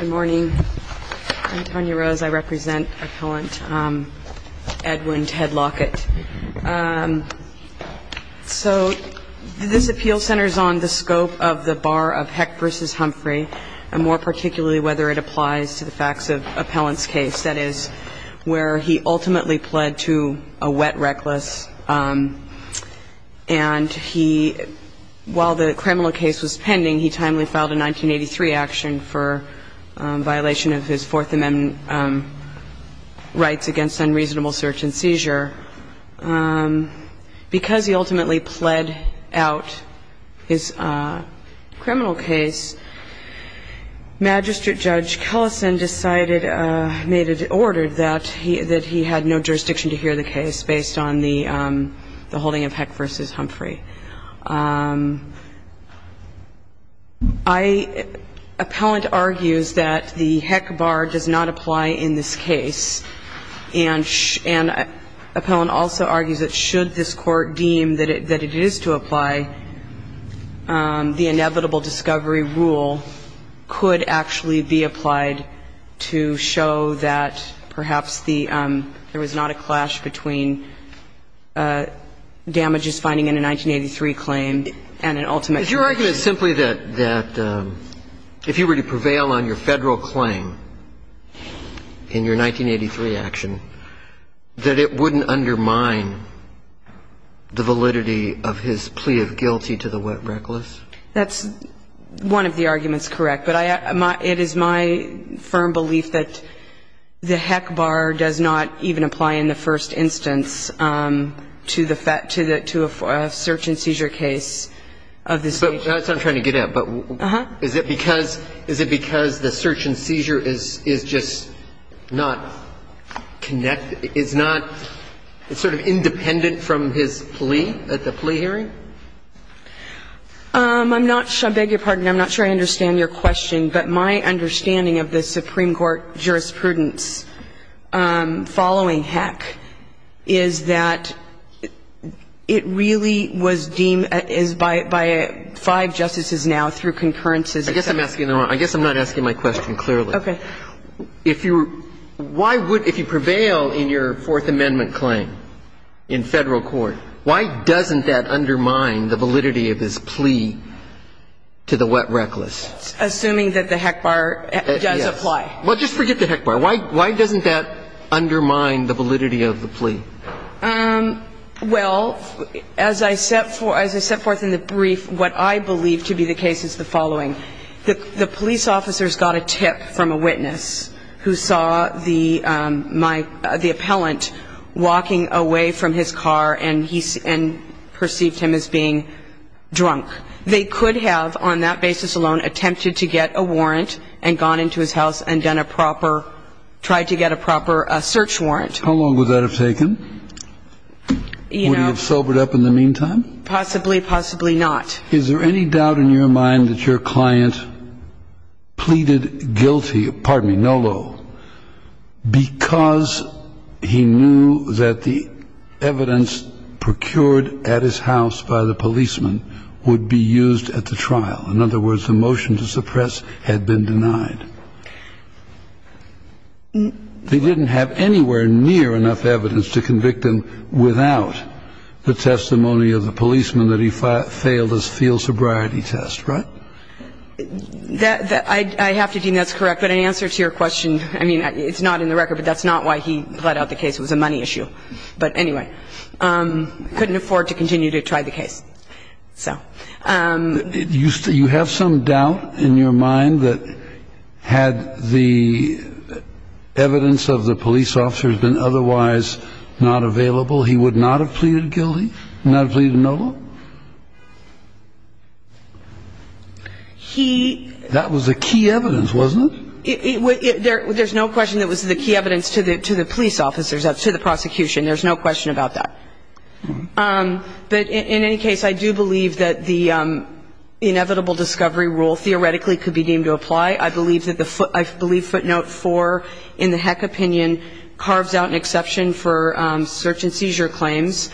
Good morning. I'm Tanya Rose. I represent appellant Edwin Ted Lockett. So this appeal centers on the scope of the bar of Heck v. Humphrey, and more particularly whether it applies to the facts of Appellant's case, that is, where he ultimately pled to a wet reckless. And he, while the criminal case was pending, he timely filed a 1983 action for violation of his Fourth Amendment rights against unreasonable search and seizure. Because he ultimately pled out his criminal case, Magistrate Judge Kellison decided, made an order that he had no jurisdiction to hear the case based on the holding of Heck v. Humphrey. Appellant argues that the Heck bar does not apply in this case. And appellant also argues that should this Court deem that it is to apply, the inevitable discovery rule could actually be applied to show that perhaps the ‑‑ there was not a clash between damages finding in a 1983 claim and an ultimate conviction. And I'm not sure that that's the case, but I don't think it's a case that would be considered guilty to the wet reckless. That's one of the arguments correct. But it is my firm belief that the Heck bar does not even apply in the first instance to the fact ‑‑ to a search and seizure case of this case. I'm trying to get at, but is it because the search and seizure is just not connected ‑‑ is not sort of independent from his plea at the plea hearing? I'm not ‑‑ I beg your pardon. I'm not sure I understand your question. But my understanding of the Supreme Court jurisprudence following Heck is that it really is by five justices now through concurrences. I guess I'm asking the wrong ‑‑ I guess I'm not asking my question clearly. Okay. If you ‑‑ why would ‑‑ if you prevail in your Fourth Amendment claim in Federal Court, why doesn't that undermine the validity of his plea to the wet reckless? Assuming that the Heck bar does apply. Well, just forget the Heck bar. Why doesn't that undermine the validity of the plea? Well, as I set forth in the brief, what I believe to be the case is the following. The police officers got a tip from a witness who saw the appellant walking away from his car and perceived him as being drunk. They could have on that basis alone attempted to get a warrant and gone into his house and done a proper ‑‑ tried to get a proper search warrant. How long would that have taken? You know. Would he have sobered up in the meantime? Possibly, possibly not. Is there any doubt in your mind that your client pleaded guilty, pardon me, Nolo, because he knew that the evidence procured at his house by the policeman would be used at the trial? In other words, the motion to suppress had been denied. They didn't have anywhere near enough evidence to convict him without the testimony of the policeman that he failed his field sobriety test, right? I have to deem that's correct. But in answer to your question, I mean, it's not in the record, but that's not why he plead out the case. It was a money issue. But anyway, couldn't afford to continue to try the case. You have some doubt in your mind that had the evidence of the police officer been otherwise not available, he would not have pleaded guilty, not have pleaded Nolo? He ‑‑ That was the key evidence, wasn't it? There's no question that was the key evidence to the police officers, to the prosecution. There's no question about that. But in any case, I do believe that the inevitable discovery rule theoretically could be deemed to apply. I believe footnote 4 in the Heck opinion carves out an exception for search and seizure claims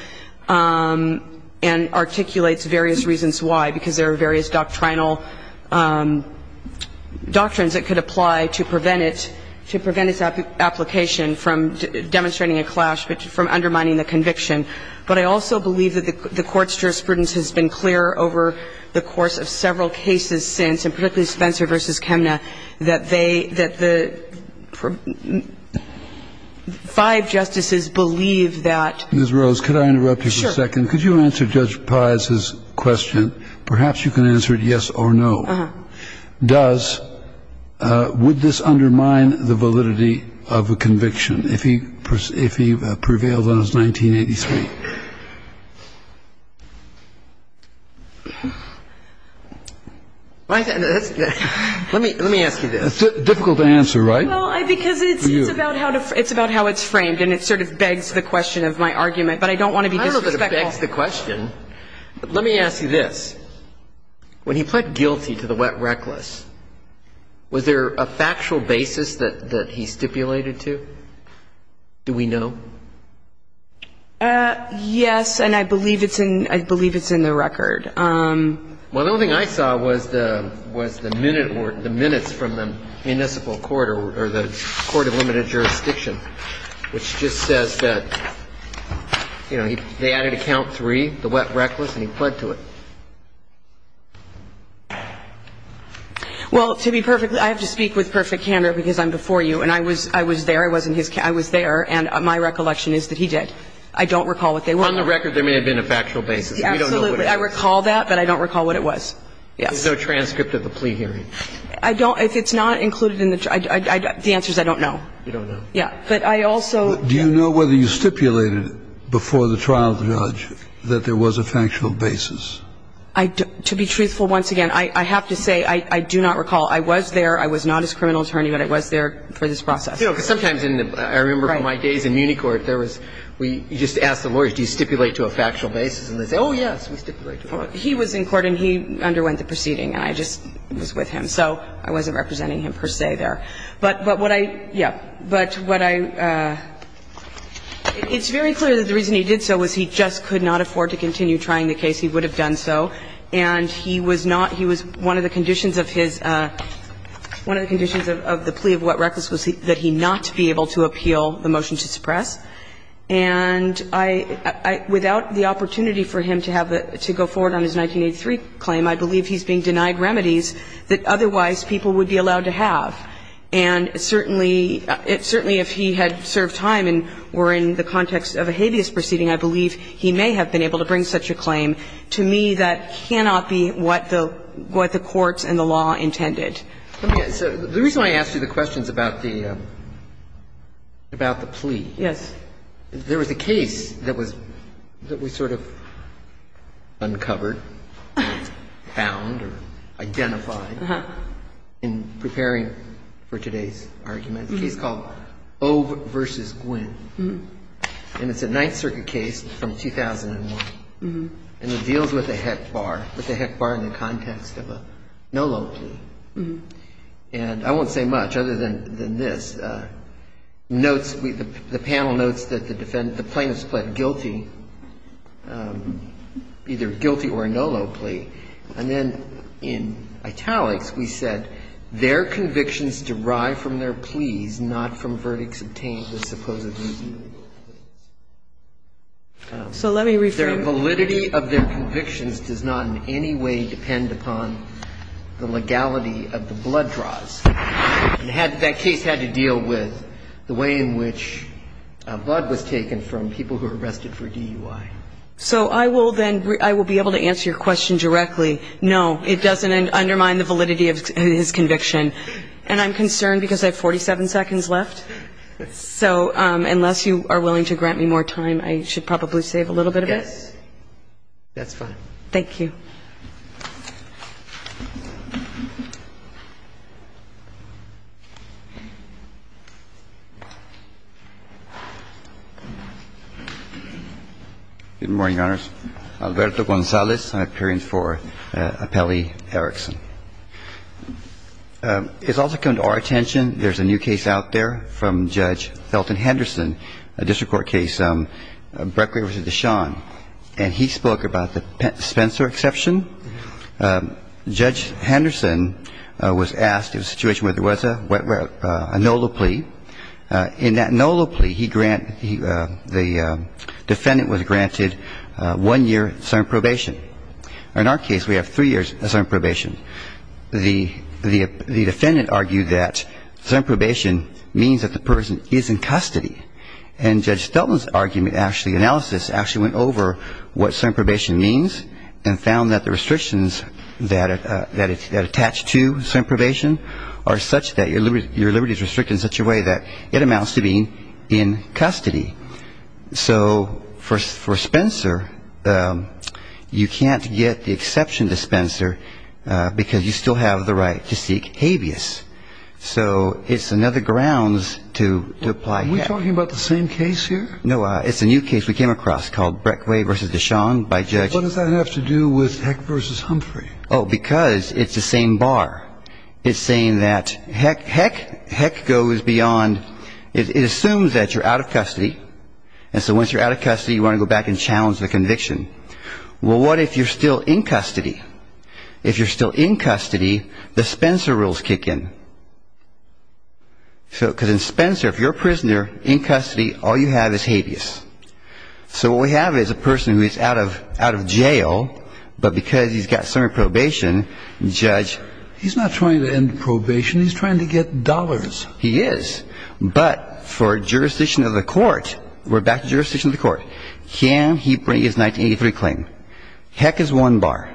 and articulates various reasons why, because there are various doctrinal doctrines that could apply to prevent it, to prevent its application from demonstrating a clash from undermining the conviction. But I also believe that the Court's jurisprudence has been clear over the course of several cases since, and particularly Spencer v. Chemna, that they ‑‑ that the five justices believe that ‑‑ Ms. Rose, could I interrupt you for a second? Sure. Could you answer Judge Pius's question? Perhaps you can answer it yes or no. Uh-huh. Does ‑‑ would this undermine the validity of a conviction? If he prevails on his 1983? Let me ask you this. It's difficult to answer, right? Well, because it's about how it's framed, and it sort of begs the question of my argument. But I don't want to be disrespectful. I don't know if it begs the question, but let me ask you this. When he pled guilty to the wet reckless, was there a factual basis that he stipulated to? Do we know? Yes, and I believe it's in ‑‑ I believe it's in the record. Well, the only thing I saw was the minutes from the municipal court or the court of limited jurisdiction, which just says that, you know, they added a count three, the wet reckless, and he pled to it. Well, to be perfect, I have to speak with perfect candor because I'm before you. And I was there. I was in his ‑‑ I was there, and my recollection is that he did. I don't recall what they were. On the record, there may have been a factual basis. We don't know what it was. Absolutely. I recall that, but I don't recall what it was. Yes. There's no transcript of the plea hearing. I don't ‑‑ if it's not included in the ‑‑ the answer is I don't know. You don't know. Yeah. But I also ‑‑ Do you know whether you stipulated before the trial judge that there was a factual basis? To be truthful, once again, I have to say I do not recall. I was there. I was not his criminal attorney, but I was there for this process. You know, because sometimes in the ‑‑ I remember from my days in Muni court, there was ‑‑ we just asked the lawyers, do you stipulate to a factual basis? And they say, oh, yes, we stipulate to a factual basis. He was in court and he underwent the proceeding, and I just was with him. So I wasn't representing him per se there. But what I ‑‑ yeah. But what I ‑‑ it's very clear that the reason he did so was he just could not afford to continue trying the case. He would have done so. And he was not ‑‑ he was one of the conditions of his ‑‑ one of the conditions of the plea of what reckless was that he not be able to appeal the motion to suppress. And I ‑‑ without the opportunity for him to have the ‑‑ to go forward on his 1983 claim, I believe he's being denied remedies that otherwise people would be allowed to have. And certainly, if he had served time and were in the context of a habeas proceeding, I believe he may have been able to bring such a claim. To me, that cannot be what the ‑‑ what the courts and the law intended. So the reason I asked you the question is about the ‑‑ about the plea. Yes. There was a case that was ‑‑ that was sort of uncovered, found or identified in preparing for today's argument, a case called O versus Gwynn. And it's a Ninth Circuit case from 2001. And it deals with a HEC bar, with a HEC bar in the context of a NOLO plea. And I won't say much other than this. Notes ‑‑ the panel notes that the defendant, the plaintiff's plead guilty, either guilty or a NOLO plea. And then in italics, we said, their convictions derive from their pleas, not from the verdicts obtained with supposedly NOLO pleas. So let me rephrase. Their validity of their convictions does not in any way depend upon the legality of the blood draws. That case had to deal with the way in which blood was taken from people who were arrested for DUI. So I will then ‑‑ I will be able to answer your question directly. No, it doesn't undermine the validity of his conviction. And I'm concerned because I have 47 seconds left. So unless you are willing to grant me more time, I should probably save a little bit of it. Yes. That's fine. Thank you. Good morning, Your Honors. Alberto Gonzalez, I'm appearing for Appellee Erickson. It's also come to our attention, there's a new case out there from Judge Felton Henderson, a district court case, Breckley v. DeShawn. And he spoke about the Spencer exception. Judge Henderson was asked, it was a situation where there was a NOLO plea. In that NOLO plea, he ‑‑ the defendant was granted one year of sergeant probation. In our case, we have three years of sergeant probation. The defendant argued that sergeant probation means that the person is in custody. And Judge Felton's argument, actually analysis, actually went over what sergeant probation means and found that the restrictions that attach to sergeant probation are such that your liberty is restricted in such a way that it amounts to being in custody. So for Spencer, you can't get the exception to Spencer because you still have the right to seek habeas. So it's another grounds to apply. Are we talking about the same case here? No, it's a new case we came across called Breckley v. DeShawn by Judge ‑‑ What does that have to do with Heck v. Humphrey? Oh, because it's the same bar. It's saying that Heck goes beyond ‑‑ it assumes that you're out of custody. And so once you're out of custody, you want to go back and challenge the conviction. Well, what if you're still in custody? If you're still in custody, the Spencer rules kick in. Because in Spencer, if you're a prisoner in custody, all you have is habeas. So what we have is a person who is out of jail, but because he's got sergeant probation, Judge ‑‑ He's not trying to end probation. He's trying to get dollars. He is. But for jurisdiction of the court, we're back to jurisdiction of the court. Can he bring his 1983 claim? Heck is one bar.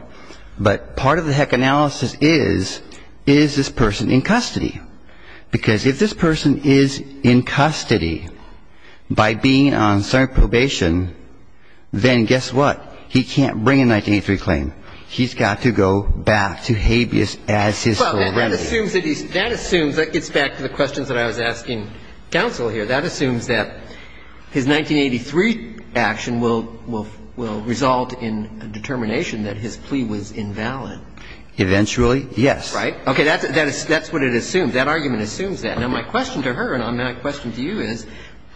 But part of the Heck analysis is, is this person in custody? Because if this person is in custody by being on sergeant probation, then guess what? He can't bring a 1983 claim. He's got to go back to habeas as his sole remedy. Well, that assumes that he's ‑‑ that assumes ‑‑ it gets back to the questions that I was asking counsel here. That assumes that his 1983 action will result in a determination that his plea was invalid. Eventually, yes. Right? Okay. That's what it assumes. That argument assumes that. Now, my question to her and my question to you is,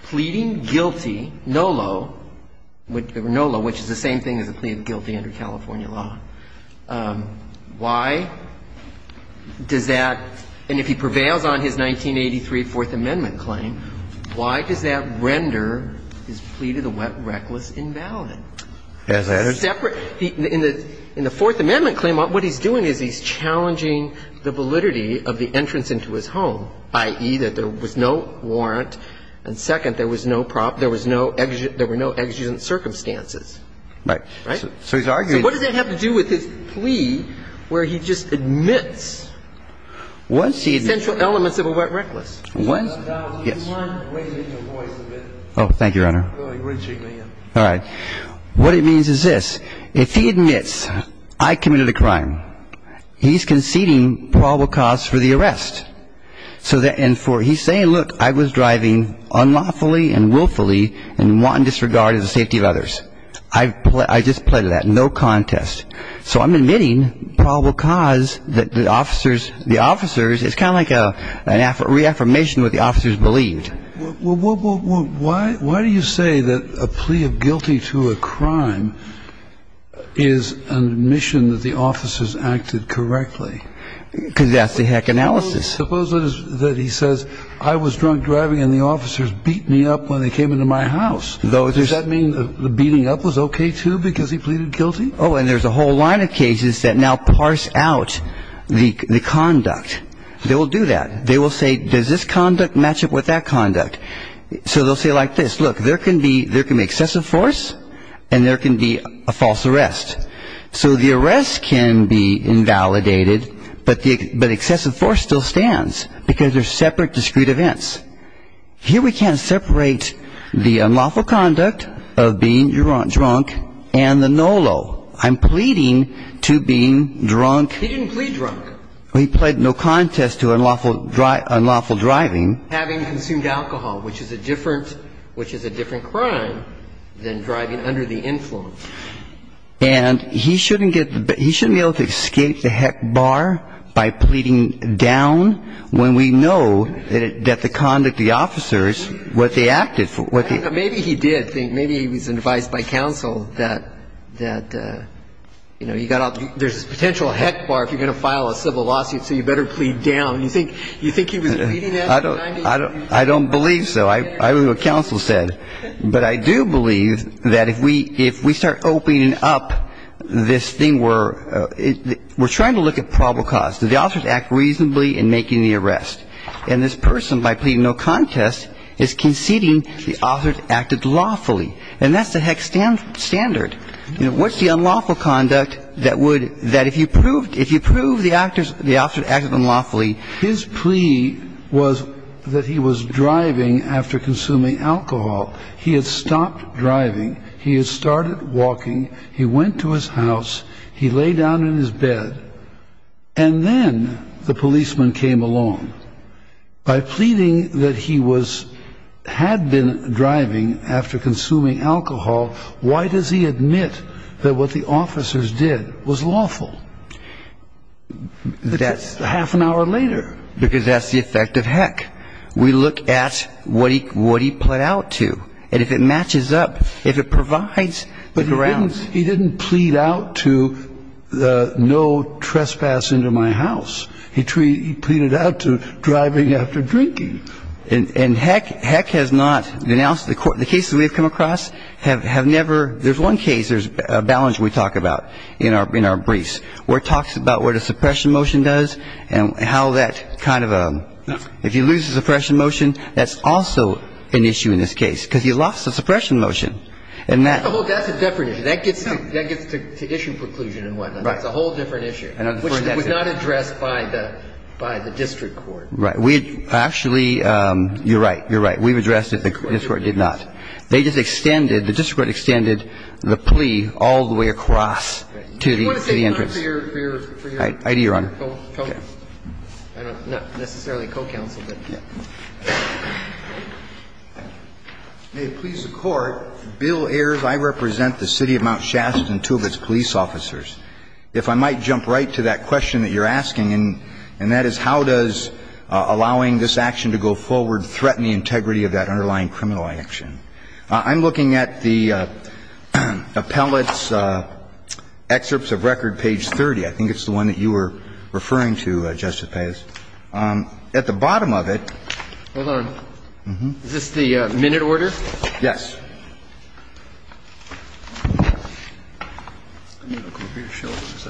pleading guilty, NOLO, NOLO, which is the same thing as a plea of guilty under California law, why does that ‑‑ and if he prevails on his 1983 Fourth Amendment claim, why does that render his plea to the wet reckless invalid? In the Fourth Amendment claim, what he's doing is he's challenging the validity of the entrance into his home, i.e., that there was no warrant, and second, there was no ‑‑ there were no exigent circumstances. Right? Right? So he's arguing ‑‑ So what does that have to do with his plea where he just admits essential elements of a wet reckless? Yes. Would you mind raising your voice a bit? Oh, thank you, Your Honor. All right. What it means is this. If he admits I committed a crime, he's conceding probable cause for the arrest. So that ‑‑ and for ‑‑ he's saying, look, I was driving unlawfully and willfully and wanton disregard of the safety of others. I just pleaded that. No contest. So I'm admitting probable cause that the officers, the officers, it's kind of like a reaffirmation of what the officers believed. Well, why do you say that a plea of guilty to a crime is an admission that the officers acted correctly? Because that's the heck analysis. Suppose that he says I was drunk driving and the officers beat me up when they came into my house. Does that mean the beating up was okay, too, because he pleaded guilty? Oh, and there's a whole line of cases that now parse out the conduct. They will do that. They will say, does this conduct match up with that conduct? So they'll say like this, look, there can be excessive force and there can be a false arrest. So the arrest can be invalidated, but excessive force still stands because they're separate discrete events. Here we can't separate the unlawful conduct of being drunk and the NOLO. I'm pleading to being drunk. He didn't plead drunk. He pled no contest to unlawful driving. Having consumed alcohol, which is a different crime than driving under the influence. And he shouldn't be able to escape the heck bar by pleading down when we know that the conduct, the officers, what they acted for. Maybe he did. Maybe he was advised by counsel that, you know, there's a potential heck bar if you're going to file a civil lawsuit, so you better plead down. You think he was leading that? I don't believe so. I don't know what counsel said. But I do believe that if we start opening up this thing, we're trying to look at probable cause. Did the officers act reasonably in making the arrest? And this person, by pleading no contest, is conceding the officers acted lawfully. And that's the heck standard. You know, what's the unlawful conduct that would, that if you proved the officers acted unlawfully. His plea was that he was driving after consuming alcohol. He had stopped driving. He had started walking. He went to his house. He lay down in his bed. And then the policeman came along. By pleading that he was, had been driving after consuming alcohol, why does he admit that what the officers did was lawful? That's half an hour later. Because that's the effect of heck. We look at what he, what he pled out to. And if it matches up, if it provides the grounds. But he didn't, he didn't plead out to the no trespass into my house. He pleaded out to driving after drinking. And heck, heck has not denounced the court. The cases we've come across have never, there's one case, there's a balance we talk about in our, in our briefs where it talks about what a suppression motion does and how that kind of a, if you lose the suppression motion, that's also an issue in this case. Because you lost the suppression motion. And that. Well, that's a different issue. That gets to, that gets to issue preclusion and whatnot. Right. That's a whole different issue. Which was not addressed by the, by the district court. Right. We actually, you're right. You're right. We've addressed it. The district court did not. They just extended, the district court extended the plea all the way across to the, to the entrance. Do you want to stand up for your, for your. I do, Your Honor. Okay. I don't, not necessarily co-counsel, but. Yeah. May it please the Court, Bill Ayers, I represent the City of Mount Shasta and two of its police officers. If I might jump right to that question that you're asking, and, and that is how does I'm looking at the appellate's excerpts of record, page 30. I think it's the one that you were referring to, Justice Payes. At the bottom of it. Hold on. Is this the minute order? Yes. Let me look over your shoulders.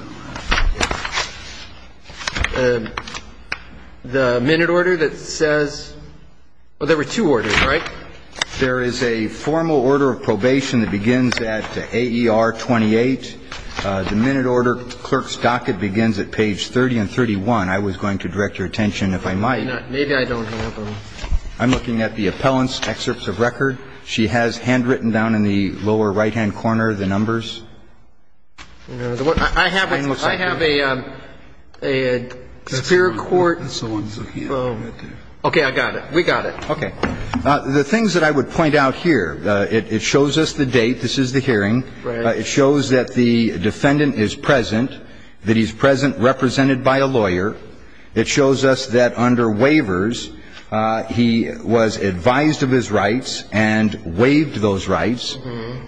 The minute order that says, well, there were two orders, right? There is a formal order of probation that begins at AER 28. The minute order clerk's docket begins at page 30 and 31. I was going to direct your attention, if I might. Maybe I don't have them. I'm looking at the appellant's excerpts of record. She has handwritten down in the lower right-hand corner the numbers. I have, I have a, a superior court. Okay. I got it. We got it. Okay. The things that I would point out here, it, it shows us the date. This is the hearing. Right. It shows that the defendant is present, that he's present represented by a lawyer. It shows us that under waivers, he was advised of his rights and waived those rights.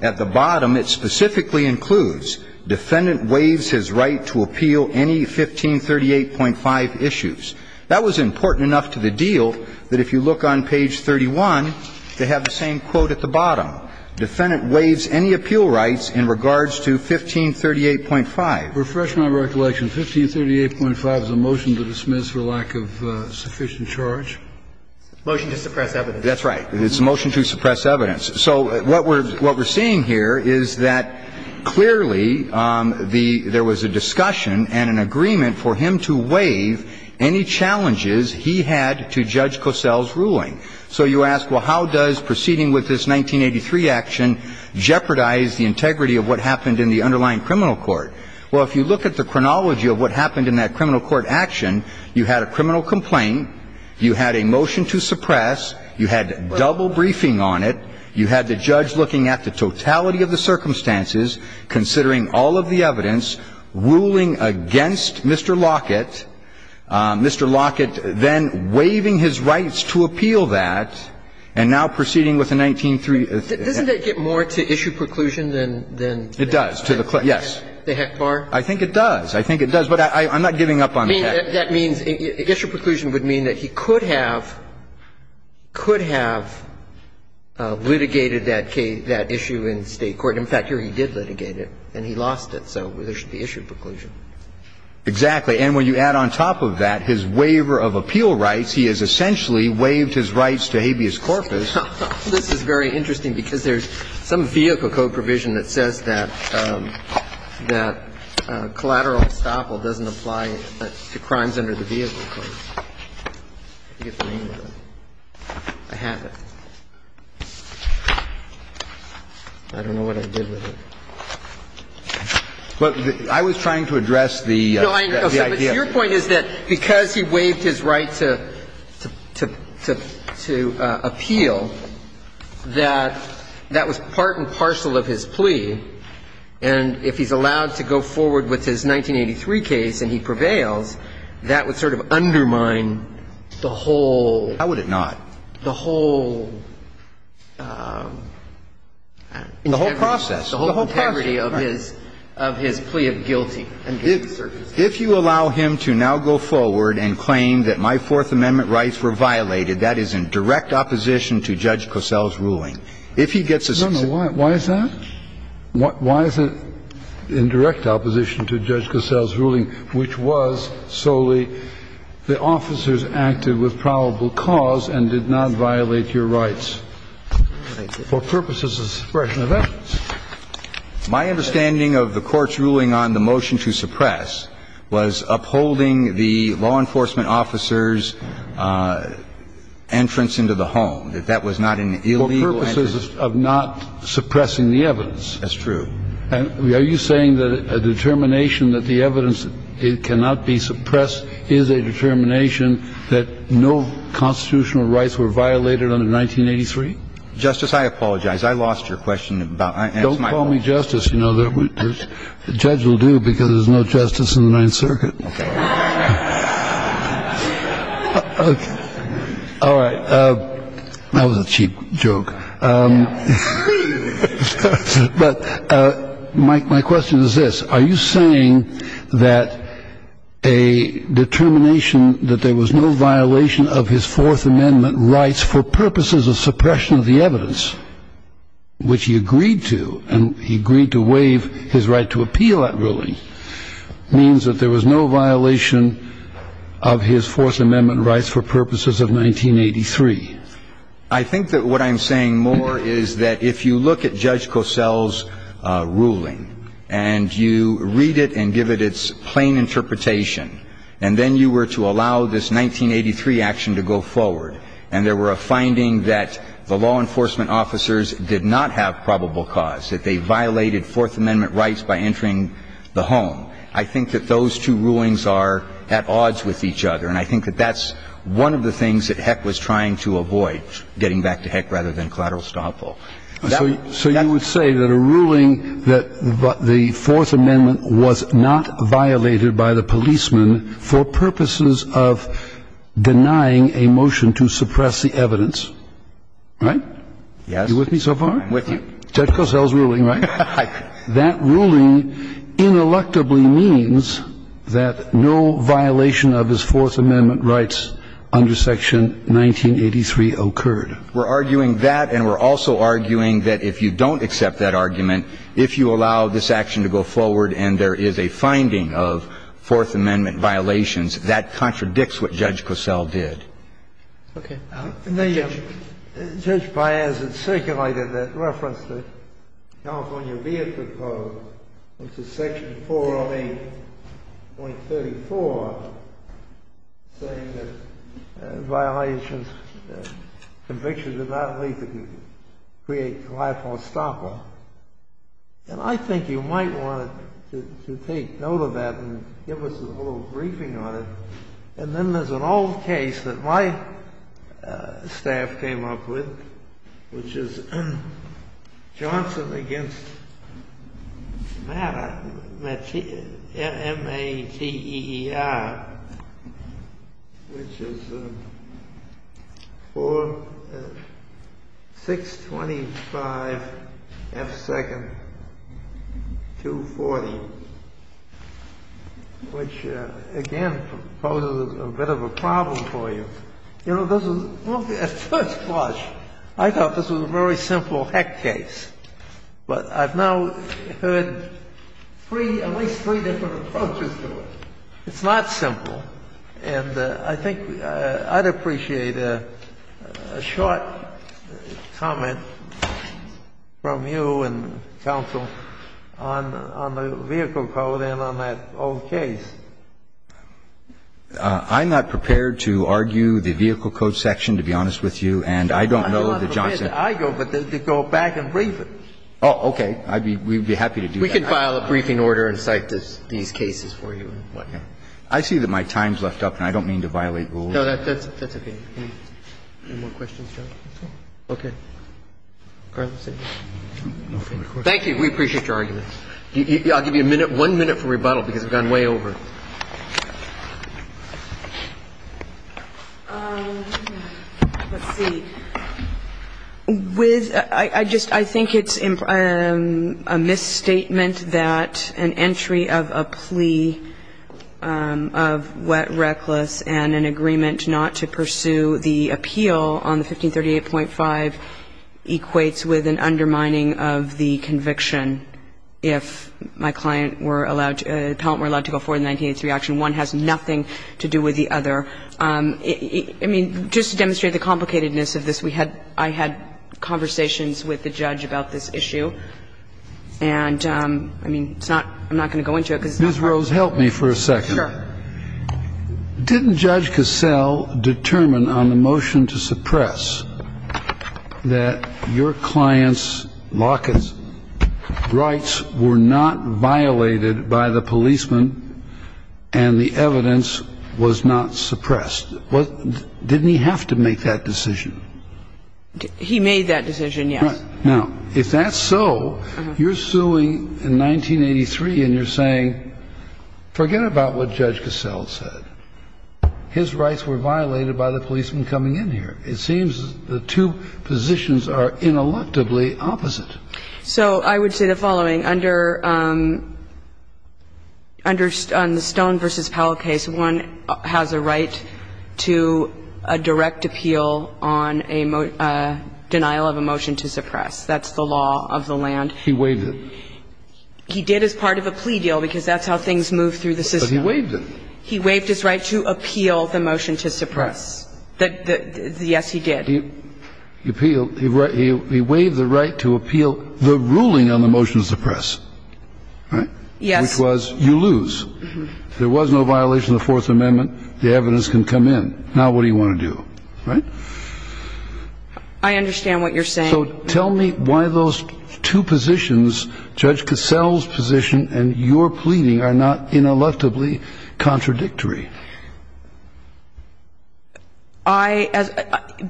At the bottom, it specifically includes defendant waives his right to appeal any 1538.5 issues. That was important enough to the deal that if you look on page 31, they have the same quote at the bottom. Defendant waives any appeal rights in regards to 1538.5. Refresh my recollection. 1538.5 is a motion to dismiss for lack of sufficient charge? Motion to suppress evidence. That's right. It's a motion to suppress evidence. So what we're, what we're seeing here is that clearly the, there was a discussion and an agreement for him to waive any challenges he had to Judge Cosell's ruling. So you ask, well, how does proceeding with this 1983 action jeopardize the integrity of what happened in the underlying criminal court? Well, if you look at the chronology of what happened in that criminal court action, you had a criminal complaint, you had a motion to suppress, you had double briefing on it, you had the judge looking at the totality of the circumstances, considering all of the evidence, ruling against Mr. Lockett, Mr. Lockett then waiving his rights to appeal that, and now proceeding with a 1983 act. Doesn't that get more to issue preclusion than, than? It does to the claim, yes. The HECPAR? I think it does. I think it does. But I'm not giving up on the HECPAR. That means issue preclusion would mean that he could have, could have litigated that case, that issue in State court. In fact, here he did litigate it, and he lost it. So there should be issue preclusion. Exactly. And when you add on top of that his waiver of appeal rights, he has essentially waived his rights to habeas corpus. This is very interesting because there's some vehicle code provision that says that collateral estoppel doesn't apply to crimes under the vehicle code. I forget the name of it. I have it. I don't know what I did with it. But I was trying to address the idea. No, I understand. But your point is that because he waived his right to, to, to, to appeal, that that was part and parcel of his plea. And if he's allowed to go forward with his 1983 case and he prevails, that would sort of undermine the whole. How would it not? The whole. The whole process. The whole integrity of his, of his plea of guilty. If you allow him to now go forward and claim that my Fourth Amendment rights were violated, that is in direct opposition to Judge Cosell's ruling. If he gets a. No, no. Why is that? Why is it in direct opposition to Judge Cosell's ruling, which was solely the officers acted with probable cause and did not violate your rights? For purposes of suppression of evidence. My understanding of the Court's ruling on the motion to suppress was upholding the law enforcement officer's entrance into the home, that that was not an illegal entrance. For purposes of not suppressing the evidence. That's true. I would. I'm sorry. I would. I'm sorry. And you're saying that no constitutional rights were violated in 1983? Justice, I apologize. I lost your question. Don't call me justice, you know that. This judge will do, because there's no justice in the Ninth Circuit. OK. All right. That was a cheap joke. But my question is this. Are you saying that a determination that there was no violation of his Fourth Amendment rights for purposes of suppression of the evidence, which he agreed to, and he agreed to waive his right to appeal that ruling, means that there was no violation of his Fourth Amendment rights for purposes of 1983? I think that what I'm saying more is that if you look at Judge Cosell's ruling and you read it and give it its plain interpretation and then you were to allow this 1983 action to go forward and there were a finding that the law enforcement officers did not have probable cause, that they violated Fourth Amendment rights by entering the home, I think that those two rulings are at odds with each other. And I think that that's one of the things that Heck was trying to avoid, getting back to Heck rather than collateral stop. So you would say that a ruling that the Fourth Amendment was not violated by the policeman for purposes of denying a motion to suppress the evidence, right? Yes. Are you with me so far? I'm with you. Judge Cosell's ruling, right? That ruling ineluctably means that no violation of his Fourth Amendment rights under Section 1983 occurred. We're arguing that and we're also arguing that if you don't accept that argument, if you allow this action to go forward and there is a finding of Fourth Amendment violations, that contradicts what Judge Cosell did. Okay. Judge Piazza circulated that reference to California Vehicle Code, which is Section 408.34, saying that violations, convictions of nonlethal create collateral stop. And I think you might want to take note of that and give us a little briefing on it. And then there's an old case that my staff came up with, which is Johnson v. Matter, M-A-T-E-R, which is 625F2-240, which, again, poses a bit of a problem for you. You know, this was at first blush. I thought this was a very simple heck case. But I've now heard three, at least three different approaches to it. It's not simple. And I think I'd appreciate a short comment from you and counsel on the Vehicle Code and on that old case. I'm not prepared to argue the Vehicle Code section, to be honest with you, and I don't know that Johnson. But I think they may have a case for that. And I'm not prepared to argue it. They may argue it, but then they go back and brief it. Oh, okay. We would be happy to do that. We could file a briefing order and cite these cases for you. I see that my time's left up and I don't mean to violate rule. That's okay. Any more questions, Joe? Okay. No further questions? Thank you. We appreciate your argument. I'll give you one minute for rebuttal because we've gone way over. Let's see. I think it's a misstatement that an entry of a plea of wet reckless and an agreement not to pursue the appeal on the 1538.5 equates with an undermining of the conviction if my client were allowed to go forward in the 1983 action. One has nothing to do with the other. I mean, just to demonstrate the complicatedness of this, I had conversations with the judge about this issue. And, I mean, I'm not going to go into it. Ms. Rose, help me for a second. Sure. Didn't Judge Cassell determine on the motion to suppress that your client's lockets rights were not violated by the policeman and the evidence was not suppressed? Didn't he have to make that decision? He made that decision, yes. Now, if that's so, you're suing in 1983 and you're saying forget about what Judge Cassell said. His rights were violated by the policeman coming in here. It seems the two positions are ineluctably opposite. So I would say the following. Under the Stone v. Powell case, one has a right to a direct appeal on a denial of a motion to suppress. That's the law of the land. He waived it. He did as part of a plea deal because that's how things move through the system. But he waived it. He waived his right to appeal the motion to suppress. Yes, he did. He appealed. He waived the right to appeal the ruling on the motion to suppress, right? Yes. Which was you lose. There was no violation of the Fourth Amendment. The evidence can come in. Now what do you want to do, right? I understand what you're saying. So tell me why those two positions, Judge Cassell's position and your pleading, are not ineluctably contradictory. I as ‑‑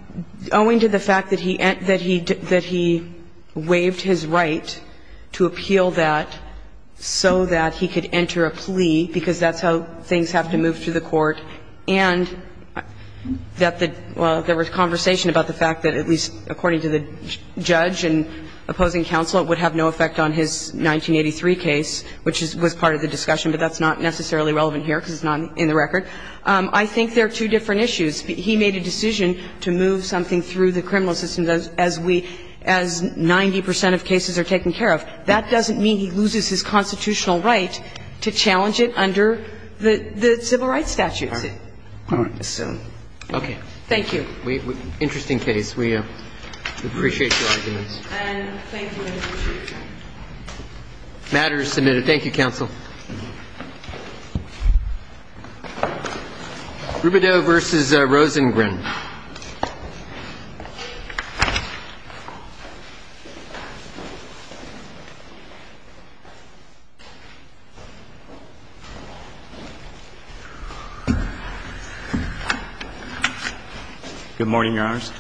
owing to the fact that he ‑‑ that he waived his right to appeal that so that he could enter a plea because that's how things have to move through the court and that the ‑‑ well, there was conversation about the fact that at least according to the judge and opposing counsel, it would have no effect on his 1983 case, which was part of the discussion. But that's not necessarily relevant here because it's not in the record. I think they're two different issues. He made a decision to move something through the criminal system as we ‑‑ as 90 percent of cases are taken care of. That doesn't mean he loses his constitutional right to challenge it under the civil rights statute, I assume. All right. Okay. Thank you. Interesting case. We appreciate your arguments. And thank you, Mr. Chief. Matter is submitted. Thank you, counsel. Rubido v. Rosengren. Good morning, Your Honors.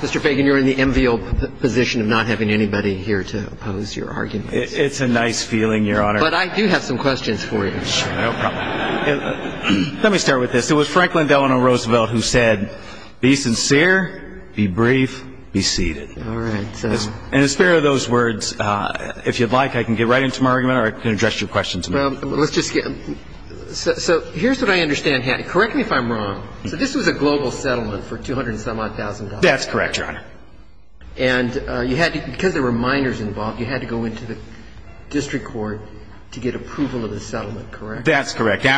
Mr. Fagan, you're in the enviable position of not having anybody here to oppose your argument. It's a nice feeling, Your Honor. But I do have some questions for you. Sure. No problem. Let me start with this. It was Franklin Delano Roosevelt who said, be sincere, be brief, be seated. All right. And in the spirit of those words, if you'd like, I can get right into my argument or I can address your question to me. Well, let's just get so here's what I understand, Hattie. Correct me if I'm wrong. So this was a global settlement for $200,000. That's correct, Your Honor. And because there were minors involved, you had to go into the district court to get approval of the settlement, correct? That's correct. It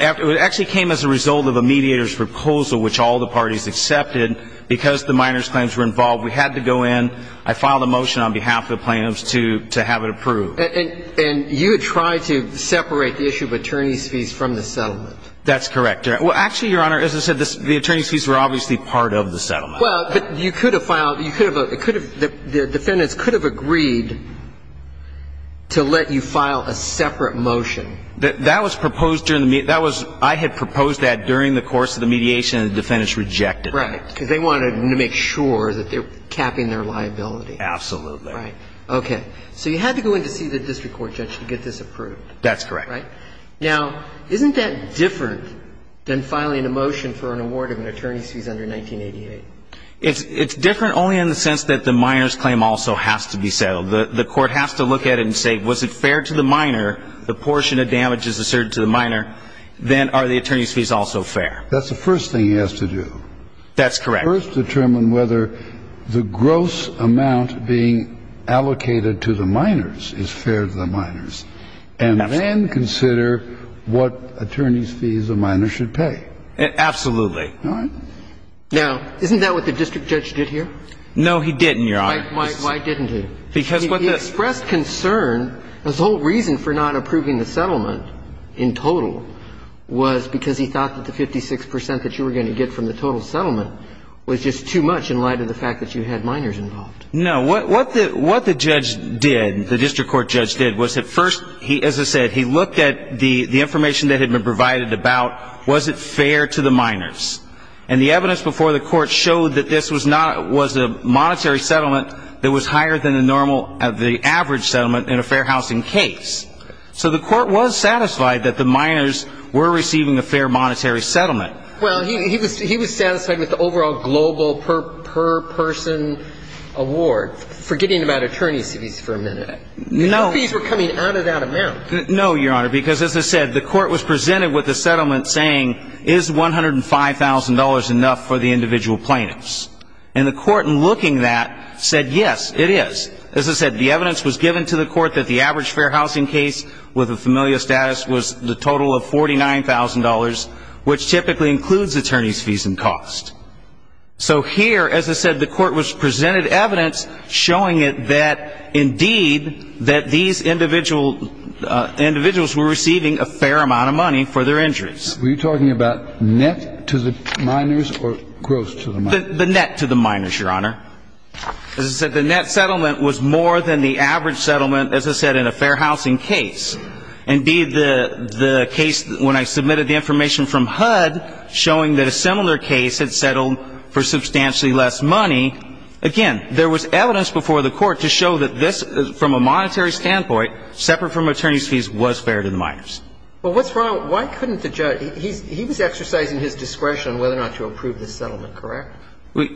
actually came as a result of a mediator's proposal, which all the parties accepted. Because the minors' claims were involved, we had to go in. I filed a motion on behalf of the plaintiffs to have it approved. And you had tried to separate the issue of attorney's fees from the settlement? That's correct. Well, actually, Your Honor, as I said, the attorney's fees were obviously part of the settlement. Well, but you could have filed, the defendants could have agreed to let you file a separate motion. That was proposed during the, that was, I had proposed that during the course of the mediation and the defendants rejected it. Right. Because they wanted to make sure that they were capping their liability. Absolutely. Right. Okay. So you had to go in to see the district court judge to get this approved. That's correct. Right? Now, isn't that different than filing a motion for an award of an attorney's fees under 1988? It's different only in the sense that the minor's claim also has to be settled. The court has to look at it and say, was it fair to the minor, the portion of damage is asserted to the minor, then are the attorney's fees also fair? That's the first thing he has to do. That's correct. First determine whether the gross amount being allocated to the minors is fair to the minors. And then consider what attorney's fees a minor should pay. Absolutely. All right? Now, isn't that what the district judge did here? No, he didn't, Your Honor. Why didn't he? Because what the He expressed concern, his whole reason for not approving the settlement in total was because he thought that the 56 percent that you were going to get from the total settlement was just too much in light of the fact that you had minors involved. No. What the judge did, the district court judge did, was at first, as I said, he looked at the information that had been provided about was it fair to the minors. And the evidence before the court showed that this was a monetary settlement that was higher than the average settlement in a fair housing case. So the court was satisfied that the minors were receiving a fair monetary settlement. Well, he was satisfied with the overall global per person award. Forgetting about attorney's fees for a minute. No. Fees were coming out of that amount. No, Your Honor. Because as I said, the court was presented with the settlement saying is $105,000 enough for the individual plaintiffs. And the court in looking that said yes, it is. As I said, the evidence was given to the court that the average fair housing case with familial status was the total of $49,000, which typically includes attorney's fees and cost. So here, as I said, the court was presented evidence showing it that indeed that these individuals were receiving a fair amount of money for their injuries. Were you talking about net to the minors or gross to the minors? The net to the minors, Your Honor. As I said, the net settlement was more than the average settlement, as I said, in a fair housing case. Indeed, the case when I submitted the information from HUD showing that a similar case had settled for substantially less money, again, there was evidence before the court to show that this, from a monetary standpoint, separate from attorney's fees, was fair to the minors. But what's wrong? Why couldn't the judge he was exercising his discretion on whether or not to approve this settlement, correct?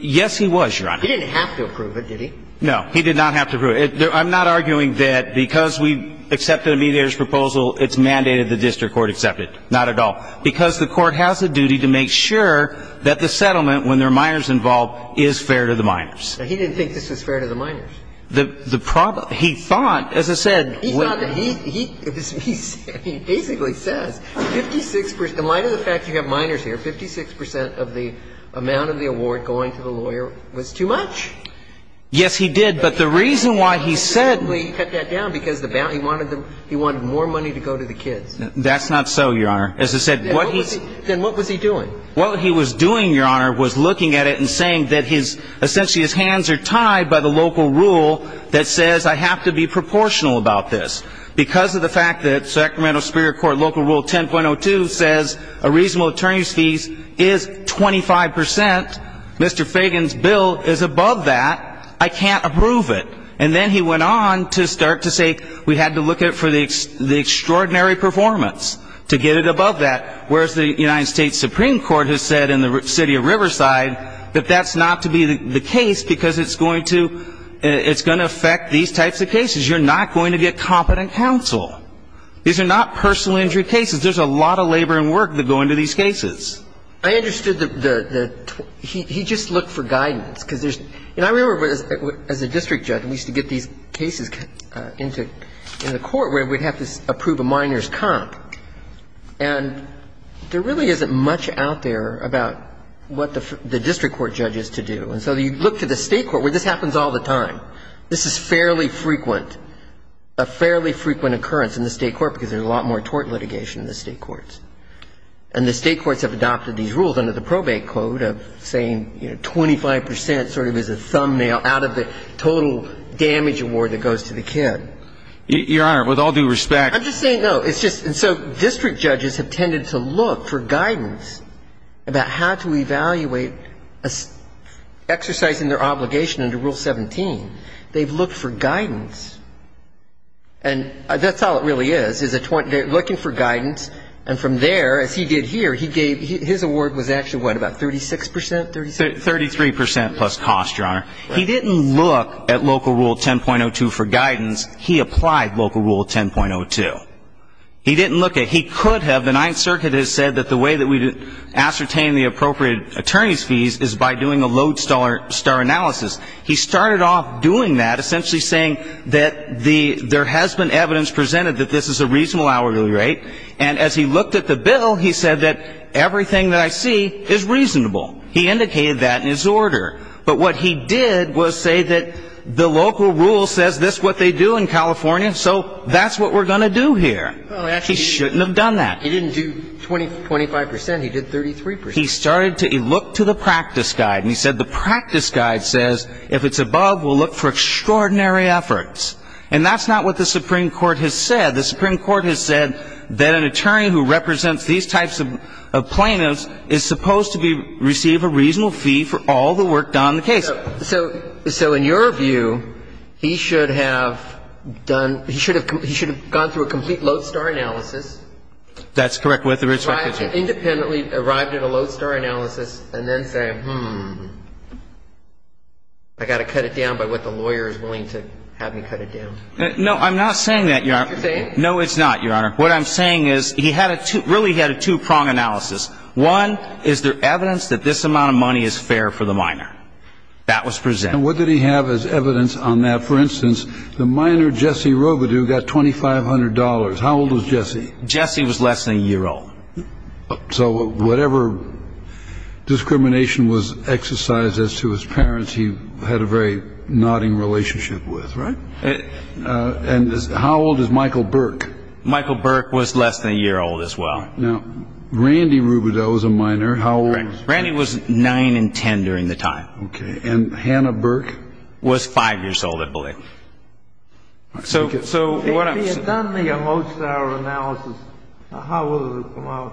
Yes, he was, Your Honor. He didn't have to approve it, did he? No. He did not have to approve it. I'm not arguing that because we accepted a mediator's proposal, it's mandated the district court accept it. Not at all. Because the court has a duty to make sure that the settlement, when there are minors involved, is fair to the minors. But he didn't think this was fair to the minors. The problem he thought, as I said, when he said he basically says 56 percent of the amount of the award going to the lawyer was too much. Yes, he did. But the reason why he said he wanted more money to go to the kids. That's not so, Your Honor. Then what was he doing? What he was doing, Your Honor, was looking at it and saying that essentially his hands are tied by the local rule that says I have to be proportional about this. Because of the fact that Sacramento Superior Court Local Rule 10.02 says a reasonable attorney's fees is 25 percent, Mr. Fagan's bill is above that. I can't approve it. And then he went on to start to say we had to look at it for the extraordinary performance to get it above that. Whereas the United States Supreme Court has said in the city of Riverside that that's not to be the case because it's going to affect these types of cases. You're not going to get competent counsel. These are not personal injury cases. There's a lot of labor and work that go into these cases. I understood the he just looked for guidance because there's I remember as a district judge we used to get these cases into the court where we'd have to approve a minor's comp. And there really isn't much out there about what the district court judge is to do. And so you look to the state court where this happens all the time. This is fairly frequent, a fairly frequent occurrence in the state court because there's a lot more tort litigation in the state courts. And the state courts have adopted these rules under the probate code of saying, you know, 25 percent sort of is a thumbnail out of the total damage award that goes to the kid. Your Honor, with all due respect. I'm just saying no. It's just and so district judges have tended to look for guidance about how to evaluate exercising their obligation under Rule 17. They've looked for guidance. And that's all it really is, is looking for guidance. And from there, as he did here, he gave his award was actually what, about 36 percent? Thirty-three percent plus cost, Your Honor. He didn't look at local Rule 10.02 for guidance. He applied local Rule 10.02. He didn't look at he could have. And the Ninth Circuit has said that the way that we ascertain the appropriate attorney's fees is by doing a lodestar analysis. He started off doing that, essentially saying that there has been evidence presented that this is a reasonable hourly rate. And as he looked at the bill, he said that everything that I see is reasonable. He indicated that in his order. But what he did was say that the local rule says this is what they do in California, so that's what we're going to do here. He shouldn't have done that. He didn't do 25 percent. He did 33 percent. He started to look to the practice guide, and he said the practice guide says if it's above, we'll look for extraordinary efforts. And that's not what the Supreme Court has said. The Supreme Court has said that an attorney who represents these types of plaintiffs is supposed to receive a reasonable fee for all the work done on the case. So in your view, he should have done he should have gone through a complete lodestar analysis. That's correct. Independently arrived at a lodestar analysis and then say, hmm, I got to cut it down by what the lawyer is willing to have me cut it down. No, I'm not saying that, Your Honor. You're saying? No, it's not, Your Honor. What I'm saying is he really had a two-prong analysis. One, is there evidence that this amount of money is fair for the minor? That was presented. And what did he have as evidence on that? For instance, the minor, Jesse Robidoux, got $2,500. How old was Jesse? Jesse was less than a year old. So whatever discrimination was exercised as to his parents, he had a very nodding relationship with. Right. And how old is Michael Burke? Michael Burke was less than a year old as well. Now, Randy Robidoux was a minor. How old was Randy? Randy was 9 and 10 during the time. Okay. And Hannah Burke? Hannah Burke was 5 years old, I believe. If he had done the low-star analysis, how would it have come out?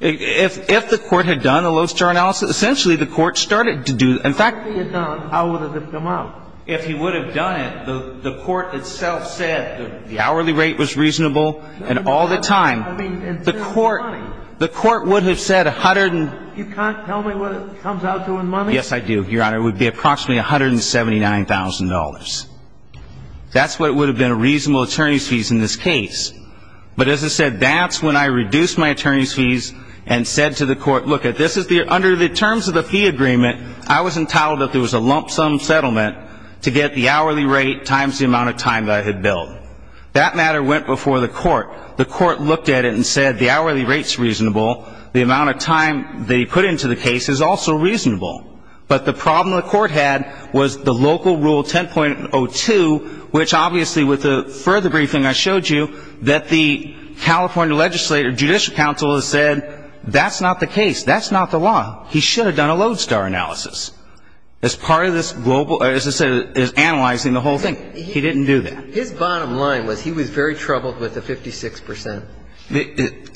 If the court had done a low-star analysis, essentially the court started to do the – in fact – If he had done it, how would it have come out? If he would have done it, the court itself said the hourly rate was reasonable and all the time. I mean, in terms of money. The court would have said 100 and – You can't tell me what it comes out to in money? Yes, I do, Your Honor. It would be approximately $179,000. That's what would have been a reasonable attorney's fees in this case. But as I said, that's when I reduced my attorney's fees and said to the court, Look, under the terms of the fee agreement, I was entitled that there was a lump sum settlement to get the hourly rate times the amount of time that I had billed. That matter went before the court. The court looked at it and said the hourly rate's reasonable. The amount of time they put into the case is also reasonable. But the problem the court had was the local rule 10.02, which obviously with the further briefing I showed you, that the California Legislative Judicial Council has said that's not the case. That's not the law. He should have done a low-star analysis as part of this global – as I said, as analyzing the whole thing. He didn't do that. His bottom line was he was very troubled with the 56 percent.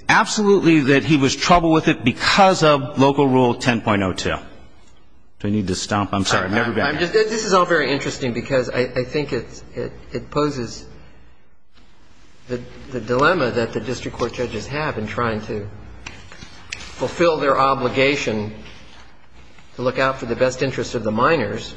Absolutely that he was troubled with it because of local rule 10.02. Do I need to stomp? I'm sorry. I'm never going to. This is all very interesting because I think it poses the dilemma that the district court judges have in trying to fulfill their obligation to look out for the best interests of the minors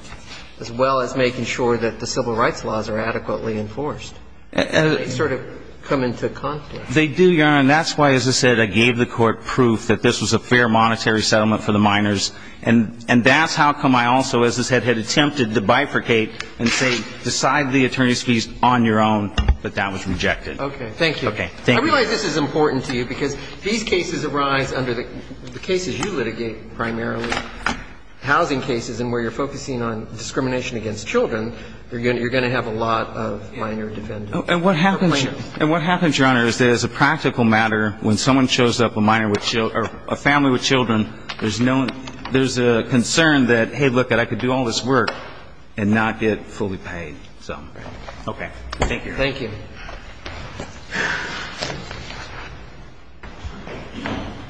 as well as making sure that the civil rights laws are adequately enforced. And they sort of come into conflict. They do, Your Honor. And that's why, as I said, I gave the court proof that this was a fair monetary settlement for the minors. And that's how come I also, as I said, had attempted to bifurcate and say decide the attorney's fees on your own, but that was rejected. Okay. Thank you. Okay. Thank you. I realize this is important to you because these cases arise under the cases you litigate primarily, housing cases, and where you're focusing on discrimination against children, you're going to have a lot of minor defendants. And what happens, Your Honor, is that as a practical matter, when someone shows up, a minor with children or a family with children, there's a concern that, hey, look, I could do all this work and not get fully paid. So, okay. Thank you. Thank you. Thank you.